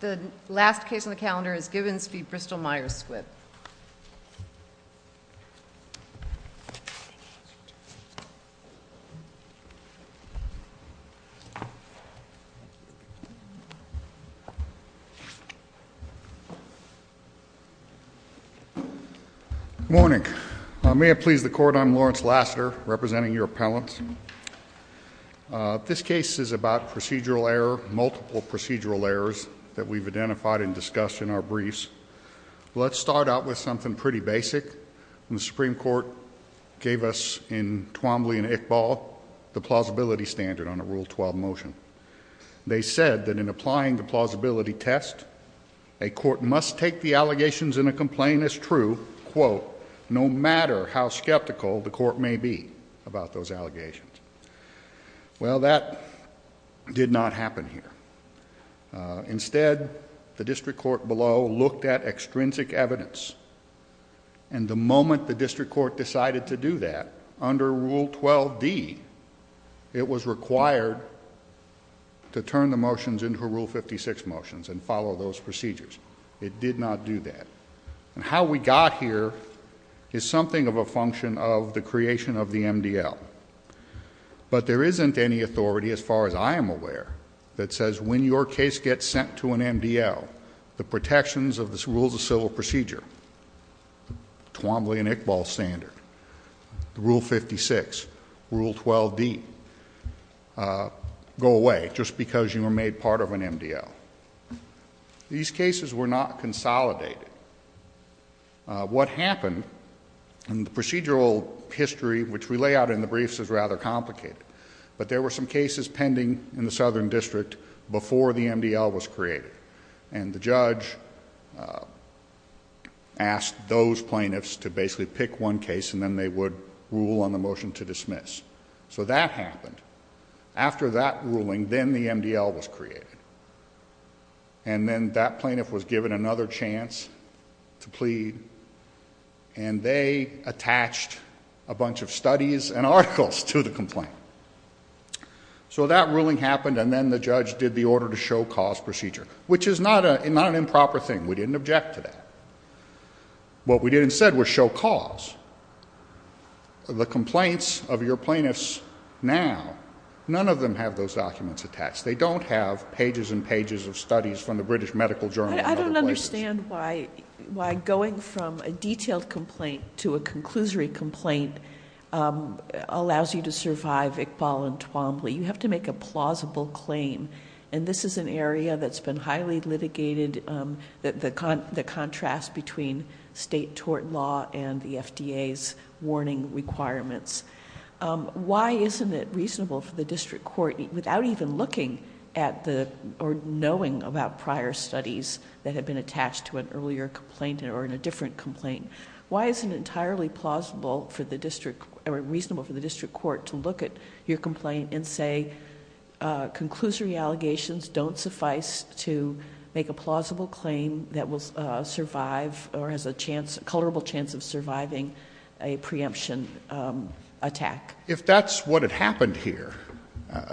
Good morning. May it please the court, I'm Lawrence Lassiter, representing your appellant. This case is about procedural error, multiple procedural errors that we've identified and discussed in our briefs. Let's start out with something pretty basic. The Supreme Court gave us in Twombly and Iqbal the plausibility standard on a Rule 12 motion. They said that in applying the plausibility test, a court must take the allegations in a complaint as true, quote, no matter how skeptical the court may be about those allegations. Well, that did not happen here. Instead, the district court below looked at extrinsic evidence. And the moment the district court decided to do that, under Rule 12D, it was required to turn the motions into Rule 56 motions and follow those procedures. It did not do that. And how we got here is something of a function of the creation of the MDL. But there isn't any authority, as far as I am aware, that says when your case gets sent to an MDL, the protections of the rules of civil procedure, Twombly and Iqbal standard, Rule 56, Rule 12D, go away, just because you were made part of an MDL. These cases were not consolidated. What happened in the procedural history, which we lay out in the briefs, is rather complicated. But there were some cases pending in the Southern District before the MDL was created. And the judge asked those plaintiffs to basically pick one case, and then they would rule on the motion to dismiss. So that happened. After that ruling, then the MDL was created. And then that plaintiff was given another chance to plead, and they attached a bunch of studies and articles to the complaint. So that ruling happened, and then the judge did the order to show cause procedure, which is not an improper thing. We didn't object to that. What we did instead was show cause. The complaints of your plaintiffs now, none of them have those documents attached. They don't have pages and pages of studies from the British Medical Journal and other places. I don't understand why going from a detailed complaint to a conclusory complaint allows you to survive Iqbal and Twombly. You have to make a plausible claim, and this is an area that's been highly litigated, the contrast between state tort law and the FDA's warning requirements. Why isn't it reasonable for the district court, without even looking at or knowing about prior studies that had been attached to an earlier complaint or in a different complaint, why isn't it entirely plausible or reasonable for the district court to look at your complaint and say, your conclusory allegations don't suffice to make a plausible claim that will survive or has a colorable chance of surviving a preemption attack? If that's what had happened here,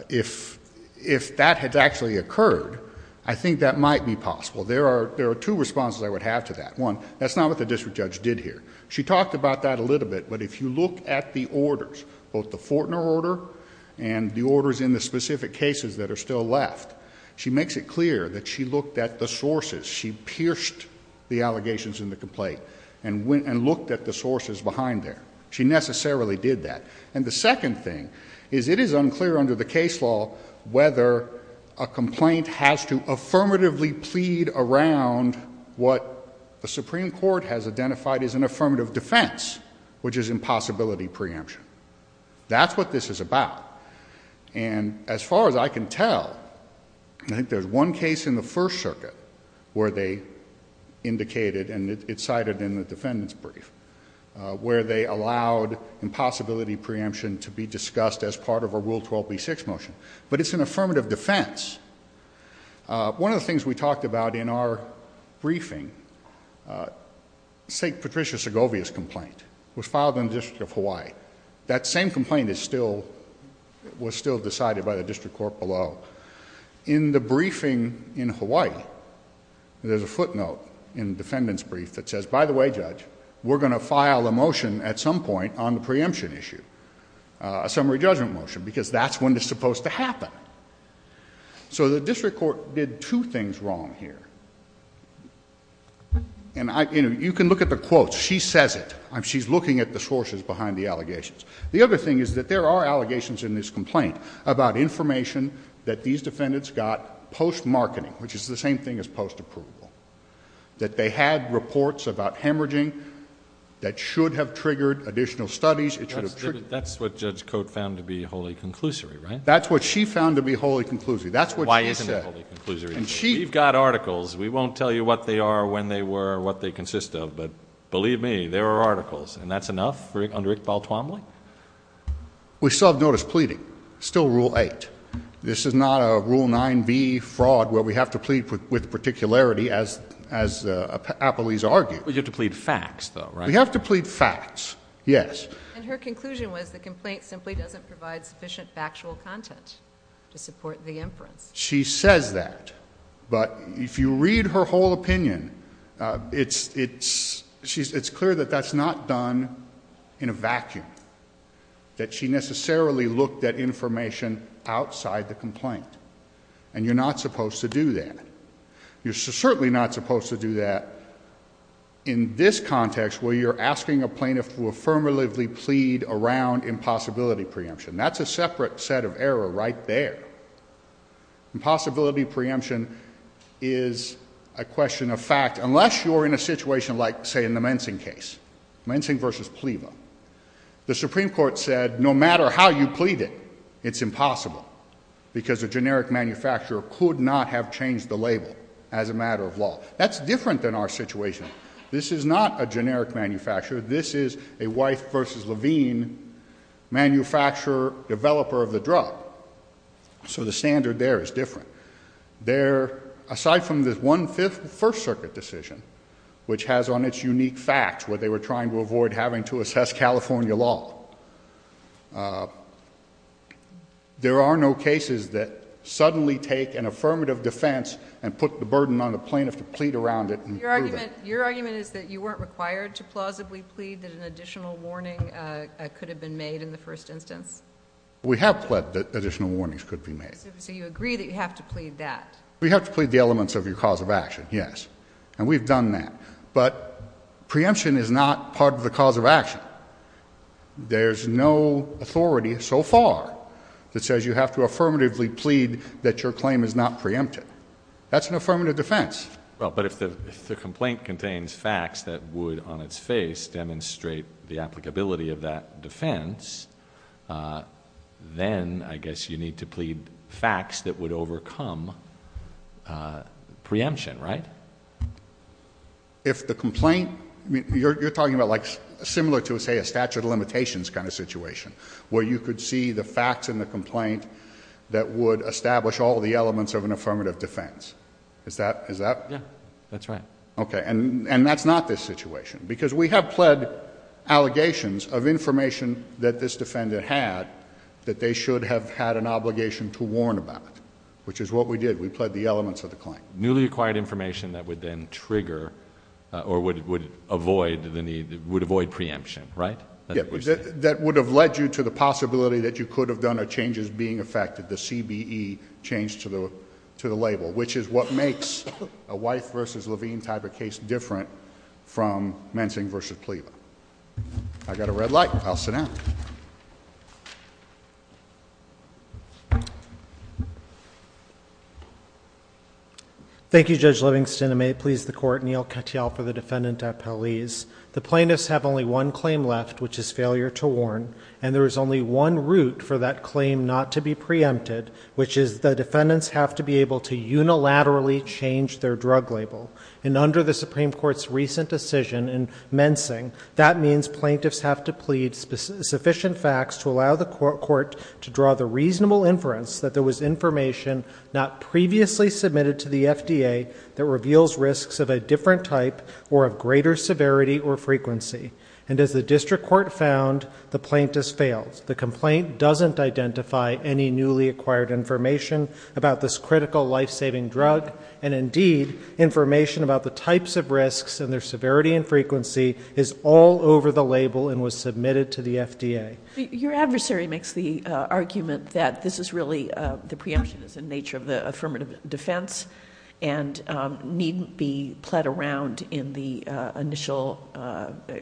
if that had actually occurred, I think that might be possible. There are two responses I would have to that. One, that's not what the district judge did here. She talked about that a little bit, but if you look at the orders, both the Fortner order and the orders in the specific cases that are still left, she makes it clear that she looked at the sources. She pierced the allegations in the complaint and looked at the sources behind there. She necessarily did that. And the second thing is it is unclear under the case law whether a complaint has to affirmatively plead around what the Supreme Court has identified as an affirmative defense, which is impossibility preemption. That's what this is about. And as far as I can tell, I think there's one case in the First Circuit where they indicated, and it's cited in the defendant's brief, where they allowed impossibility preemption to be discussed as part of a Rule 12b6 motion, but it's an affirmative defense. One of the things we talked about in our briefing, St. Patricia Segovia's complaint, was filed in the District of Hawaii. That same complaint was still decided by the district court below. In the briefing in Hawaii, there's a footnote in the defendant's brief that says, by the way, Judge, we're going to file a motion at some point on the preemption issue, a summary judgment motion, because that's when it's supposed to happen. So the district court did two things wrong here. And you can look at the quotes. She says it. She's looking at the sources behind the allegations. The other thing is that there are allegations in this complaint about information that these defendants got post-marketing, which is the same thing as post-approval, that they had reports about hemorrhaging that should have triggered additional studies. That's what Judge Cote found to be wholly conclusory, right? That's what she found to be wholly conclusory. That's what she said. Why isn't it wholly conclusory? We've got articles. We won't tell you what they are, when they were, or what they consist of. But believe me, there are articles. And that's enough under Iqbal Twombly? We still have notice pleading. Still Rule 8. This is not a Rule 9b fraud where we have to plead with particularity, as Apalese argued. But you have to plead facts, though, right? We have to plead facts, yes. And her conclusion was the complaint simply doesn't provide sufficient factual content to support the inference. She says that. But if you read her whole opinion, it's clear that that's not done in a vacuum, that she necessarily looked at information outside the complaint. And you're not supposed to do that. You're certainly not supposed to do that in this context where you're asking a plaintiff to affirmatively plead around impossibility preemption. That's a separate set of error right there. Impossibility preemption is a question of fact, unless you're in a situation like, say, in the mensing case, mensing versus plievo. The Supreme Court said no matter how you plead it, it's impossible, because a generic manufacturer could not have changed the label as a matter of law. That's different than our situation. This is not a generic manufacturer. This is a Weiss versus Levine manufacturer, developer of the drug. So the standard there is different. Aside from the one-fifth First Circuit decision, which has on its unique facts what they were trying to avoid having to assess California law, there are no cases that suddenly take an affirmative defense and put the burden on the plaintiff to plead around it and prove it. So your argument is that you weren't required to plausibly plead that an additional warning could have been made in the first instance? We have pled that additional warnings could be made. So you agree that you have to plead that? We have to plead the elements of your cause of action, yes, and we've done that. But preemption is not part of the cause of action. There's no authority so far that says you have to affirmatively plead that your claim is not preempted. That's an affirmative defense. Well, but if the complaint contains facts that would, on its face, demonstrate the applicability of that defense, then I guess you need to plead facts that would overcome preemption, right? If the complaint... You're talking about like similar to, say, a statute of limitations kind of situation where you could see the facts in the complaint that would establish all the elements of an affirmative defense. Is that... Yeah. That's right. Okay. And that's not this situation because we have pled allegations of information that this defendant had that they should have had an obligation to warn about, which is what we did. We pled the elements of the claim. Newly acquired information that would then trigger or would avoid the need... would avoid preemption, right? Yeah. That would have led you to the possibility that you could have done a change the CBE change to the label, which is what makes a Wife v. Levine type of case different from Menting v. Plea. I've got a red light. I'll sit down. Thank you, Judge Livingston. I may please the Court. Neal Katyal for the defendant at Pelez. The plaintiffs have only one claim left, which is failure to warn, and there is only one route for that claim not to be preempted, which is the defendants have to be able to unilaterally change their drug label. And under the Supreme Court's recent decision in Menting, that means plaintiffs have to plead sufficient facts to allow the court to draw the reasonable inference that there was information not previously submitted to the FDA that reveals risks of a different type or of greater severity or frequency. And as the district court found, the plaintiffs failed. The complaint doesn't identify any newly acquired information about this critical life-saving drug, and indeed information about the types of risks and their severity and frequency is all over the label and was submitted to the FDA. Your adversary makes the argument that this is really, the preemption is in nature of the affirmative defense and needn't be played around in the initial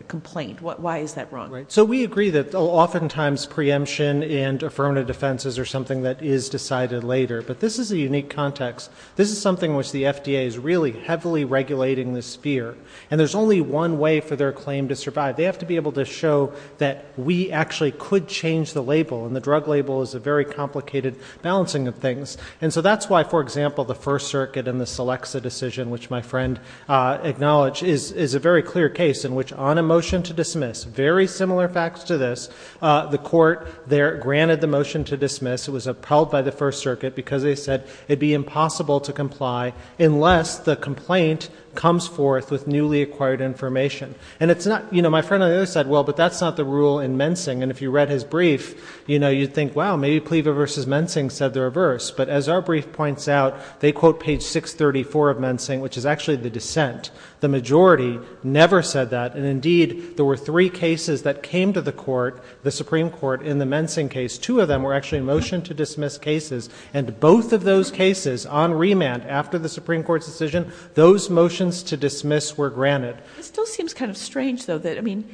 complaint. Why is that wrong? So we agree that oftentimes preemption and affirmative defense is something that is decided later, but this is a unique context. This is something which the FDA is really heavily regulating this fear, and there's only one way for their claim to survive. They have to be able to show that we actually could change the label, and the drug label is a very complicated balancing of things. And so that's why, for example, the First Circuit in the Selecsa decision, which my friend acknowledged, is a very clear case in which, on a motion to dismiss, very similar facts to this, the court there granted the motion to dismiss. It was upheld by the First Circuit because they said it would be impossible to comply unless the complaint comes forth with newly acquired information. And it's not, you know, my friend on the other side, well, but that's not the rule in Mensing. And if you read his brief, you know, you'd think, wow, maybe Plieva v. Mensing said the reverse. But as our brief points out, they quote page 634 of Mensing, which is actually the dissent. The majority never said that. And indeed, there were three cases that came to the court, the Supreme Court, in the Mensing case. Two of them were actually motion to dismiss cases, and both of those cases, on remand, after the Supreme Court's decision, those motions to dismiss were granted. It still seems kind of strange, though, that, I mean,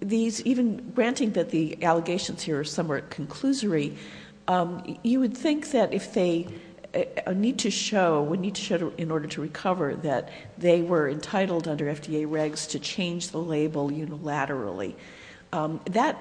these even granting that the allegations here are somewhat conclusory, you would think that if they need to show, would need to show in order to recover that they were entitled under FDA regs to change the label unilaterally. That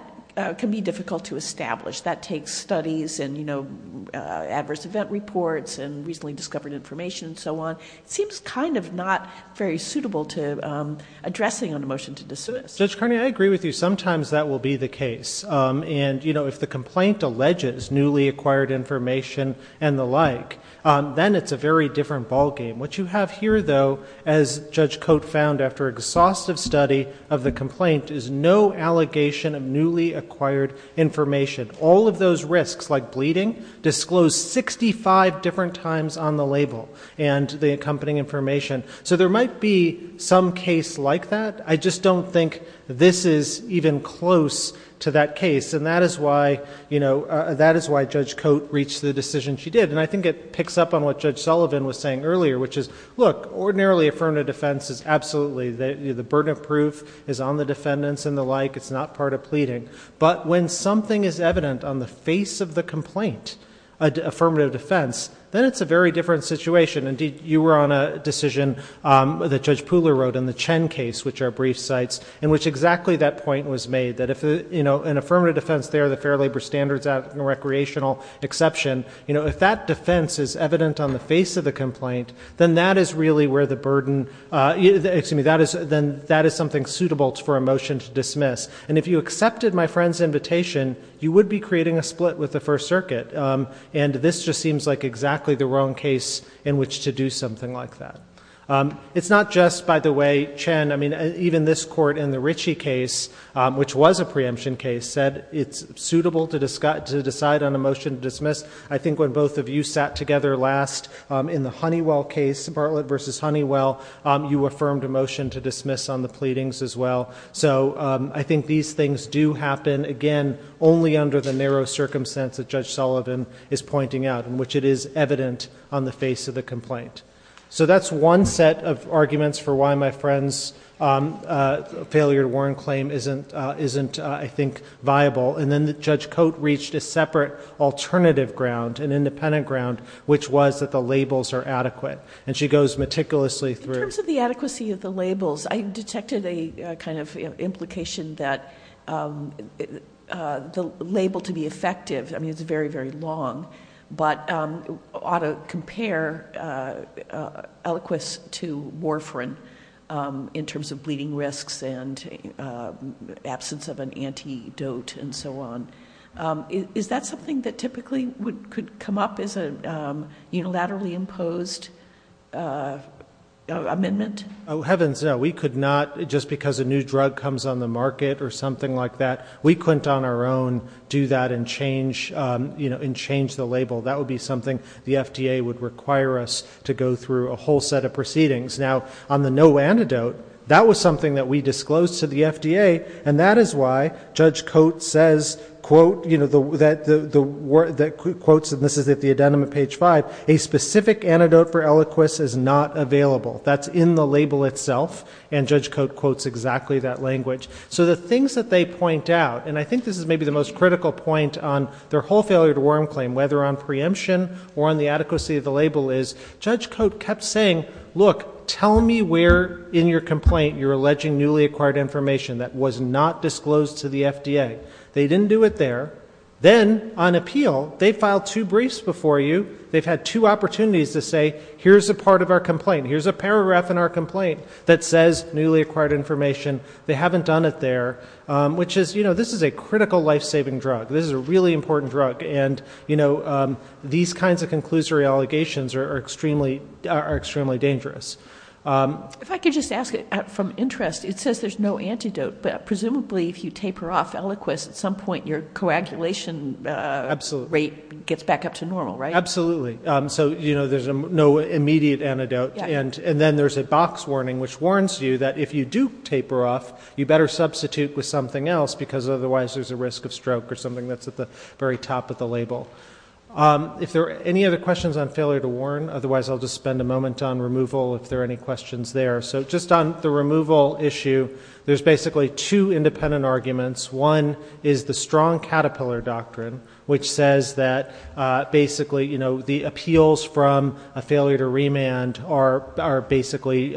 can be difficult to establish. That takes studies and, you know, adverse event reports and recently discovered information and so on. It seems kind of not very suitable to addressing on a motion to dismiss. Judge Carney, I agree with you. Sometimes that will be the case. And, you know, if the complaint alleges newly acquired information and the like, then it's a very different ballgame. What you have here, though, as Judge Cote found after exhaustive study of the complaint, is no allegation of newly acquired information. All of those risks, like bleeding, disclosed 65 different times on the label and the accompanying information. So there might be some case like that. I just don't think this is even close to that case. And that is why, you know, that is why Judge Cote reached the decision she did. And I think it picks up on what Judge Sullivan was saying earlier, which is, look, ordinarily affirmative defense is absolutely, the burden of proof is on the defendants and the like. It's not part of pleading. But when something is evident on the face of the complaint, affirmative defense, then it's a very different situation. Indeed, you were on a decision that Judge Pooler wrote in the Chen case, which are brief sites, in which exactly that point was made, that if, you know, an affirmative defense there, the Fair Labor Standards Act and recreational exception, you know, if that defense is evident on the face of the complaint, then that is really where the burden, excuse me, then that is something suitable for a motion to dismiss. And if you accepted my friend's invitation, you would be creating a split with the First Circuit. And this just seems like exactly the wrong case in which to do something like that. It's not just, by the way, Chen, I mean, even this court in the Ritchie case, which was a preemption case, said it's suitable to decide on a motion to dismiss. I think when both of you sat together last in the Honeywell case, Bartlett v. Honeywell, you affirmed a motion to dismiss on the pleadings as well. So I think these things do happen, again, only under the narrow circumstance that Judge Sullivan is pointing out, in which it is evident on the face of the complaint. So that's one set of arguments for why my friend's failure to warn claim isn't, I think, viable. And then Judge Cote reached a separate alternative ground, an independent ground, which was that the labels are adequate. And she goes meticulously through. In terms of the adequacy of the labels, I detected a kind of implication that the label to be effective, I mean, it's very, very long, but ought to compare eloquence to warfarin in terms of bleeding risks and absence of an antidote and so on. Is that something that typically could come up as a unilaterally imposed amendment? Oh, heavens no. We could not, just because a new drug comes on the market or something like that, we couldn't on our own do that and change the label. That would be something the FDA would require us to go through a whole set of proceedings. Now, on the no antidote, that was something that we disclosed to the FDA, and that is why Judge Cote says, quotes, and this is at the addendum at page five, a specific antidote for Eliquis is not available. That's in the label itself, and Judge Cote quotes exactly that language. So the things that they point out, and I think this is maybe the most critical point on their whole failure to warn claim, whether on preemption or on the adequacy of the label, is Judge Cote kept saying, look, tell me where in your complaint you're alleging newly acquired information that was not disclosed to the FDA. They didn't do it there. Then, on appeal, they filed two briefs before you. They've had two opportunities to say, here's a part of our complaint, here's a paragraph in our complaint that says newly acquired information. They haven't done it there, which is, you know, this is a critical life-saving drug. This is a really important drug, and, you know, these kinds of conclusory allegations are extremely dangerous. If I could just ask it from interest. It says there's no antidote, but presumably if you taper off Eliquis, at some point your coagulation rate gets back up to normal, right? Absolutely. So, you know, there's no immediate antidote. And then there's a box warning, which warns you that if you do taper off, you better substitute with something else because otherwise there's a risk of stroke or something that's at the very top of the label. If there are any other questions on failure to warn, otherwise I'll just spend a moment on removal if there are any questions there. So just on the removal issue, there's basically two independent arguments. One is the strong caterpillar doctrine, which says that basically, you know, the appeals from a failure to remand are basically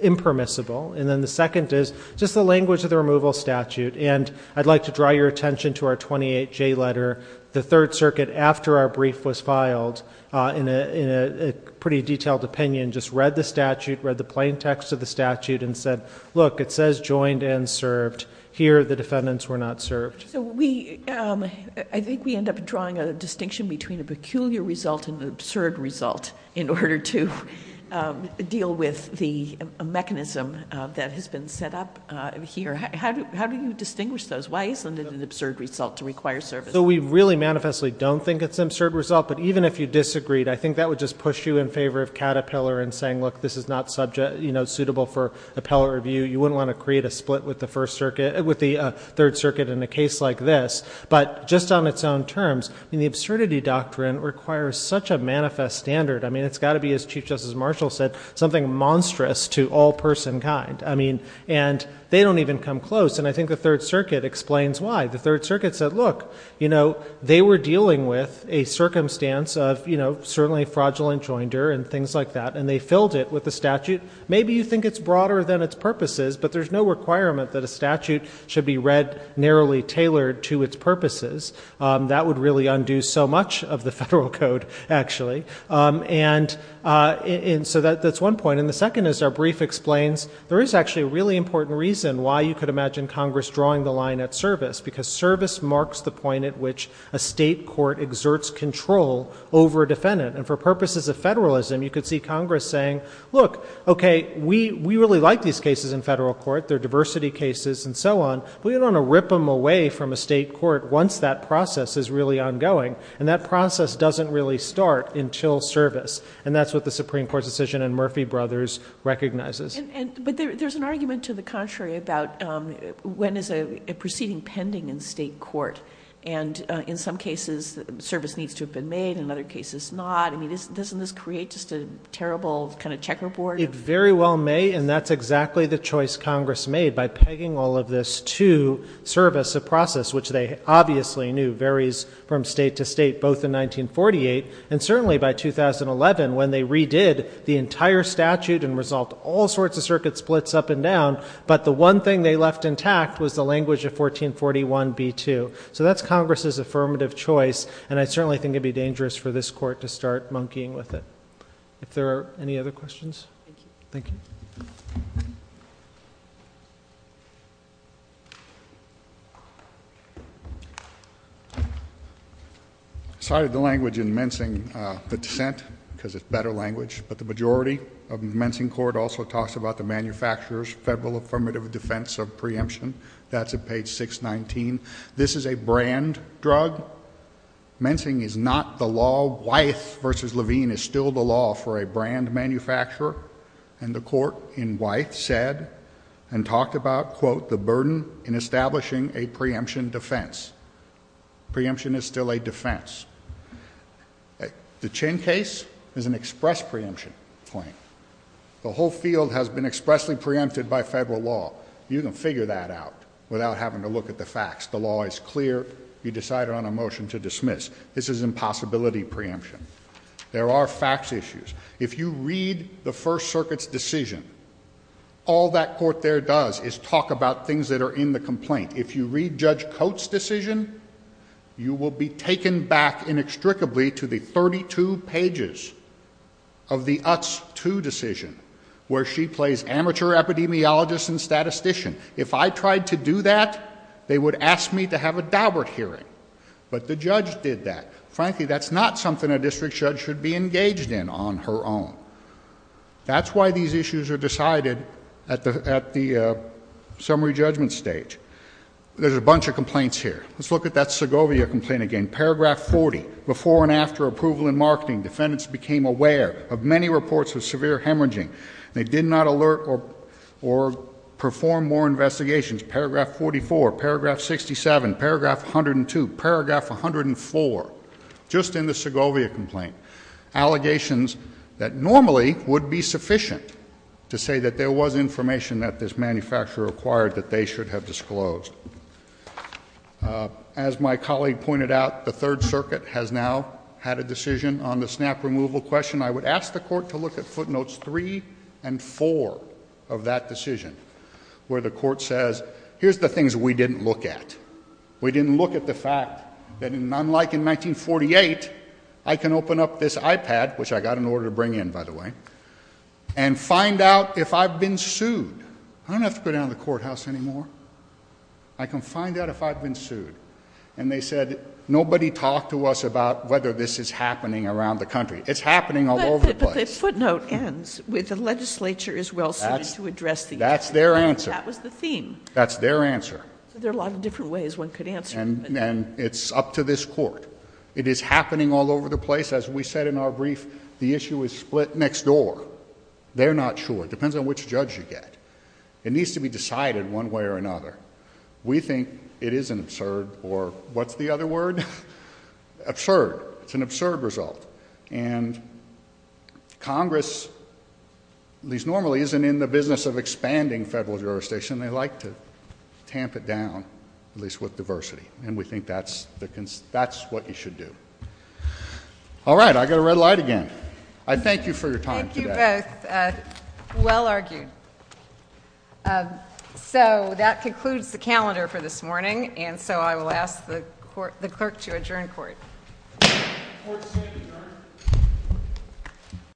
impermissible. And then the second is just the language of the removal statute. And I'd like to draw your attention to our 28J letter. The Third Circuit, after our brief was filed, in a pretty detailed opinion, just read the statute, read the plain text of the statute, and said, look, it says joined and served. Here the defendants were not served. So I think we end up drawing a distinction between a peculiar result and an absurd result in order to deal with the mechanism that has been set up here. How do you distinguish those? Why isn't it an absurd result to require service? So we really manifestly don't think it's an absurd result. But even if you disagreed, I think that would just push you in favor of caterpillar and saying, look, this is not suitable for appellate review. You wouldn't want to create a split with the Third Circuit in a case like this. But just on its own terms, the absurdity doctrine requires such a manifest standard. I mean, it's got to be, as Chief Justice Marshall said, something monstrous to all person kind. And they don't even come close. And I think the Third Circuit explains why. The Third Circuit said, look, they were dealing with a circumstance of certainly fraudulent joinder and things like that, and they filled it with a statute. Maybe you think it's broader than its purposes, but there's no requirement that a statute should be read narrowly tailored to its purposes. That would really undo so much of the federal code, actually. And so that's one point. And the second is our brief explains there is actually a really important reason why you could imagine Congress drawing the line at service, because service marks the point at which a state court exerts control over a defendant. And for purposes of federalism, you could see Congress saying, look, okay, we really like these cases in federal court. They're diversity cases and so on. We don't want to rip them away from a state court once that process is really ongoing. And that process doesn't really start until service. And that's what the Supreme Court's decision in Murphy Brothers recognizes. But there's an argument to the contrary about when is a proceeding pending in state court. And in some cases, service needs to have been made. In other cases, not. I mean, doesn't this create just a terrible kind of checkerboard? It very well may. And that's exactly the choice Congress made by pegging all of this to service, a process which they obviously knew varies from state to state both in 1948 and certainly by 2011 when they redid the entire statute and resolved all sorts of circuit splits up and down. But the one thing they left intact was the language of 1441b2. So that's Congress's affirmative choice. And I certainly think it would be dangerous for this court to start monkeying with it. If there are any other questions. Thank you. I cited the language in Mensing, the dissent, because it's better language. But the majority of the Mensing court also talks about the manufacturer's federal affirmative defense of preemption. That's at page 619. This is a brand drug. Mensing is not the law. Wythe v. Levine is still the law for a brand manufacturer. And the court in Wythe said and talked about, quote, the burden in establishing a preemption defense. Preemption is still a defense. The Chin case is an express preemption claim. The whole field has been expressly preempted by federal law. You can figure that out without having to look at the facts. The law is clear. You decide on a motion to dismiss. This is impossibility preemption. There are facts issues. If you read the First Circuit's decision, all that court there does is talk about things that are in the complaint. If you read Judge Coates' decision, you will be taken back inextricably to the 32 pages of the Utz II decision, where she plays amateur epidemiologist and statistician. If I tried to do that, they would ask me to have a Daubert hearing. But the judge did that. Frankly, that's not something a district judge should be engaged in on her own. That's why these issues are decided at the summary judgment stage. There's a bunch of complaints here. Let's look at that Segovia complaint again. Paragraph 40, before and after approval in marketing, defendants became aware of many reports of severe hemorrhaging. They did not alert or perform more investigations. Paragraph 44, paragraph 67, paragraph 102, paragraph 104, just in the Segovia complaint, allegations that normally would be sufficient to say that there was information that this manufacturer acquired that they should have disclosed. As my colleague pointed out, the Third Circuit has now had a decision on the snap removal question. I would ask the court to look at footnotes three and four of that decision, where the court says, here's the things we didn't look at. We didn't look at the fact that, unlike in 1948, I can open up this iPad, which I got an order to bring in, by the way, and find out if I've been sued. I don't have to go down to the courthouse anymore. I can find out if I've been sued. And they said, nobody talked to us about whether this is happening around the country. It's happening all over the place. But the footnote ends with the legislature is well suited to address the issue. That's their answer. That was the theme. That's their answer. So there are a lot of different ways one could answer. And it's up to this court. It is happening all over the place. As we said in our brief, the issue is split next door. They're not sure. It depends on which judge you get. It needs to be decided one way or another. We think it is an absurd, or what's the other word? Absurd. It's an absurd result. And Congress, at least normally, isn't in the business of expanding federal jurisdiction. They like to tamp it down, at least with diversity. And we think that's what you should do. All right. I've got a red light again. I thank you for your time today. Thank you both. Well argued. So that concludes the calendar for this morning. And so I will ask the clerk to adjourn court. Court is adjourned.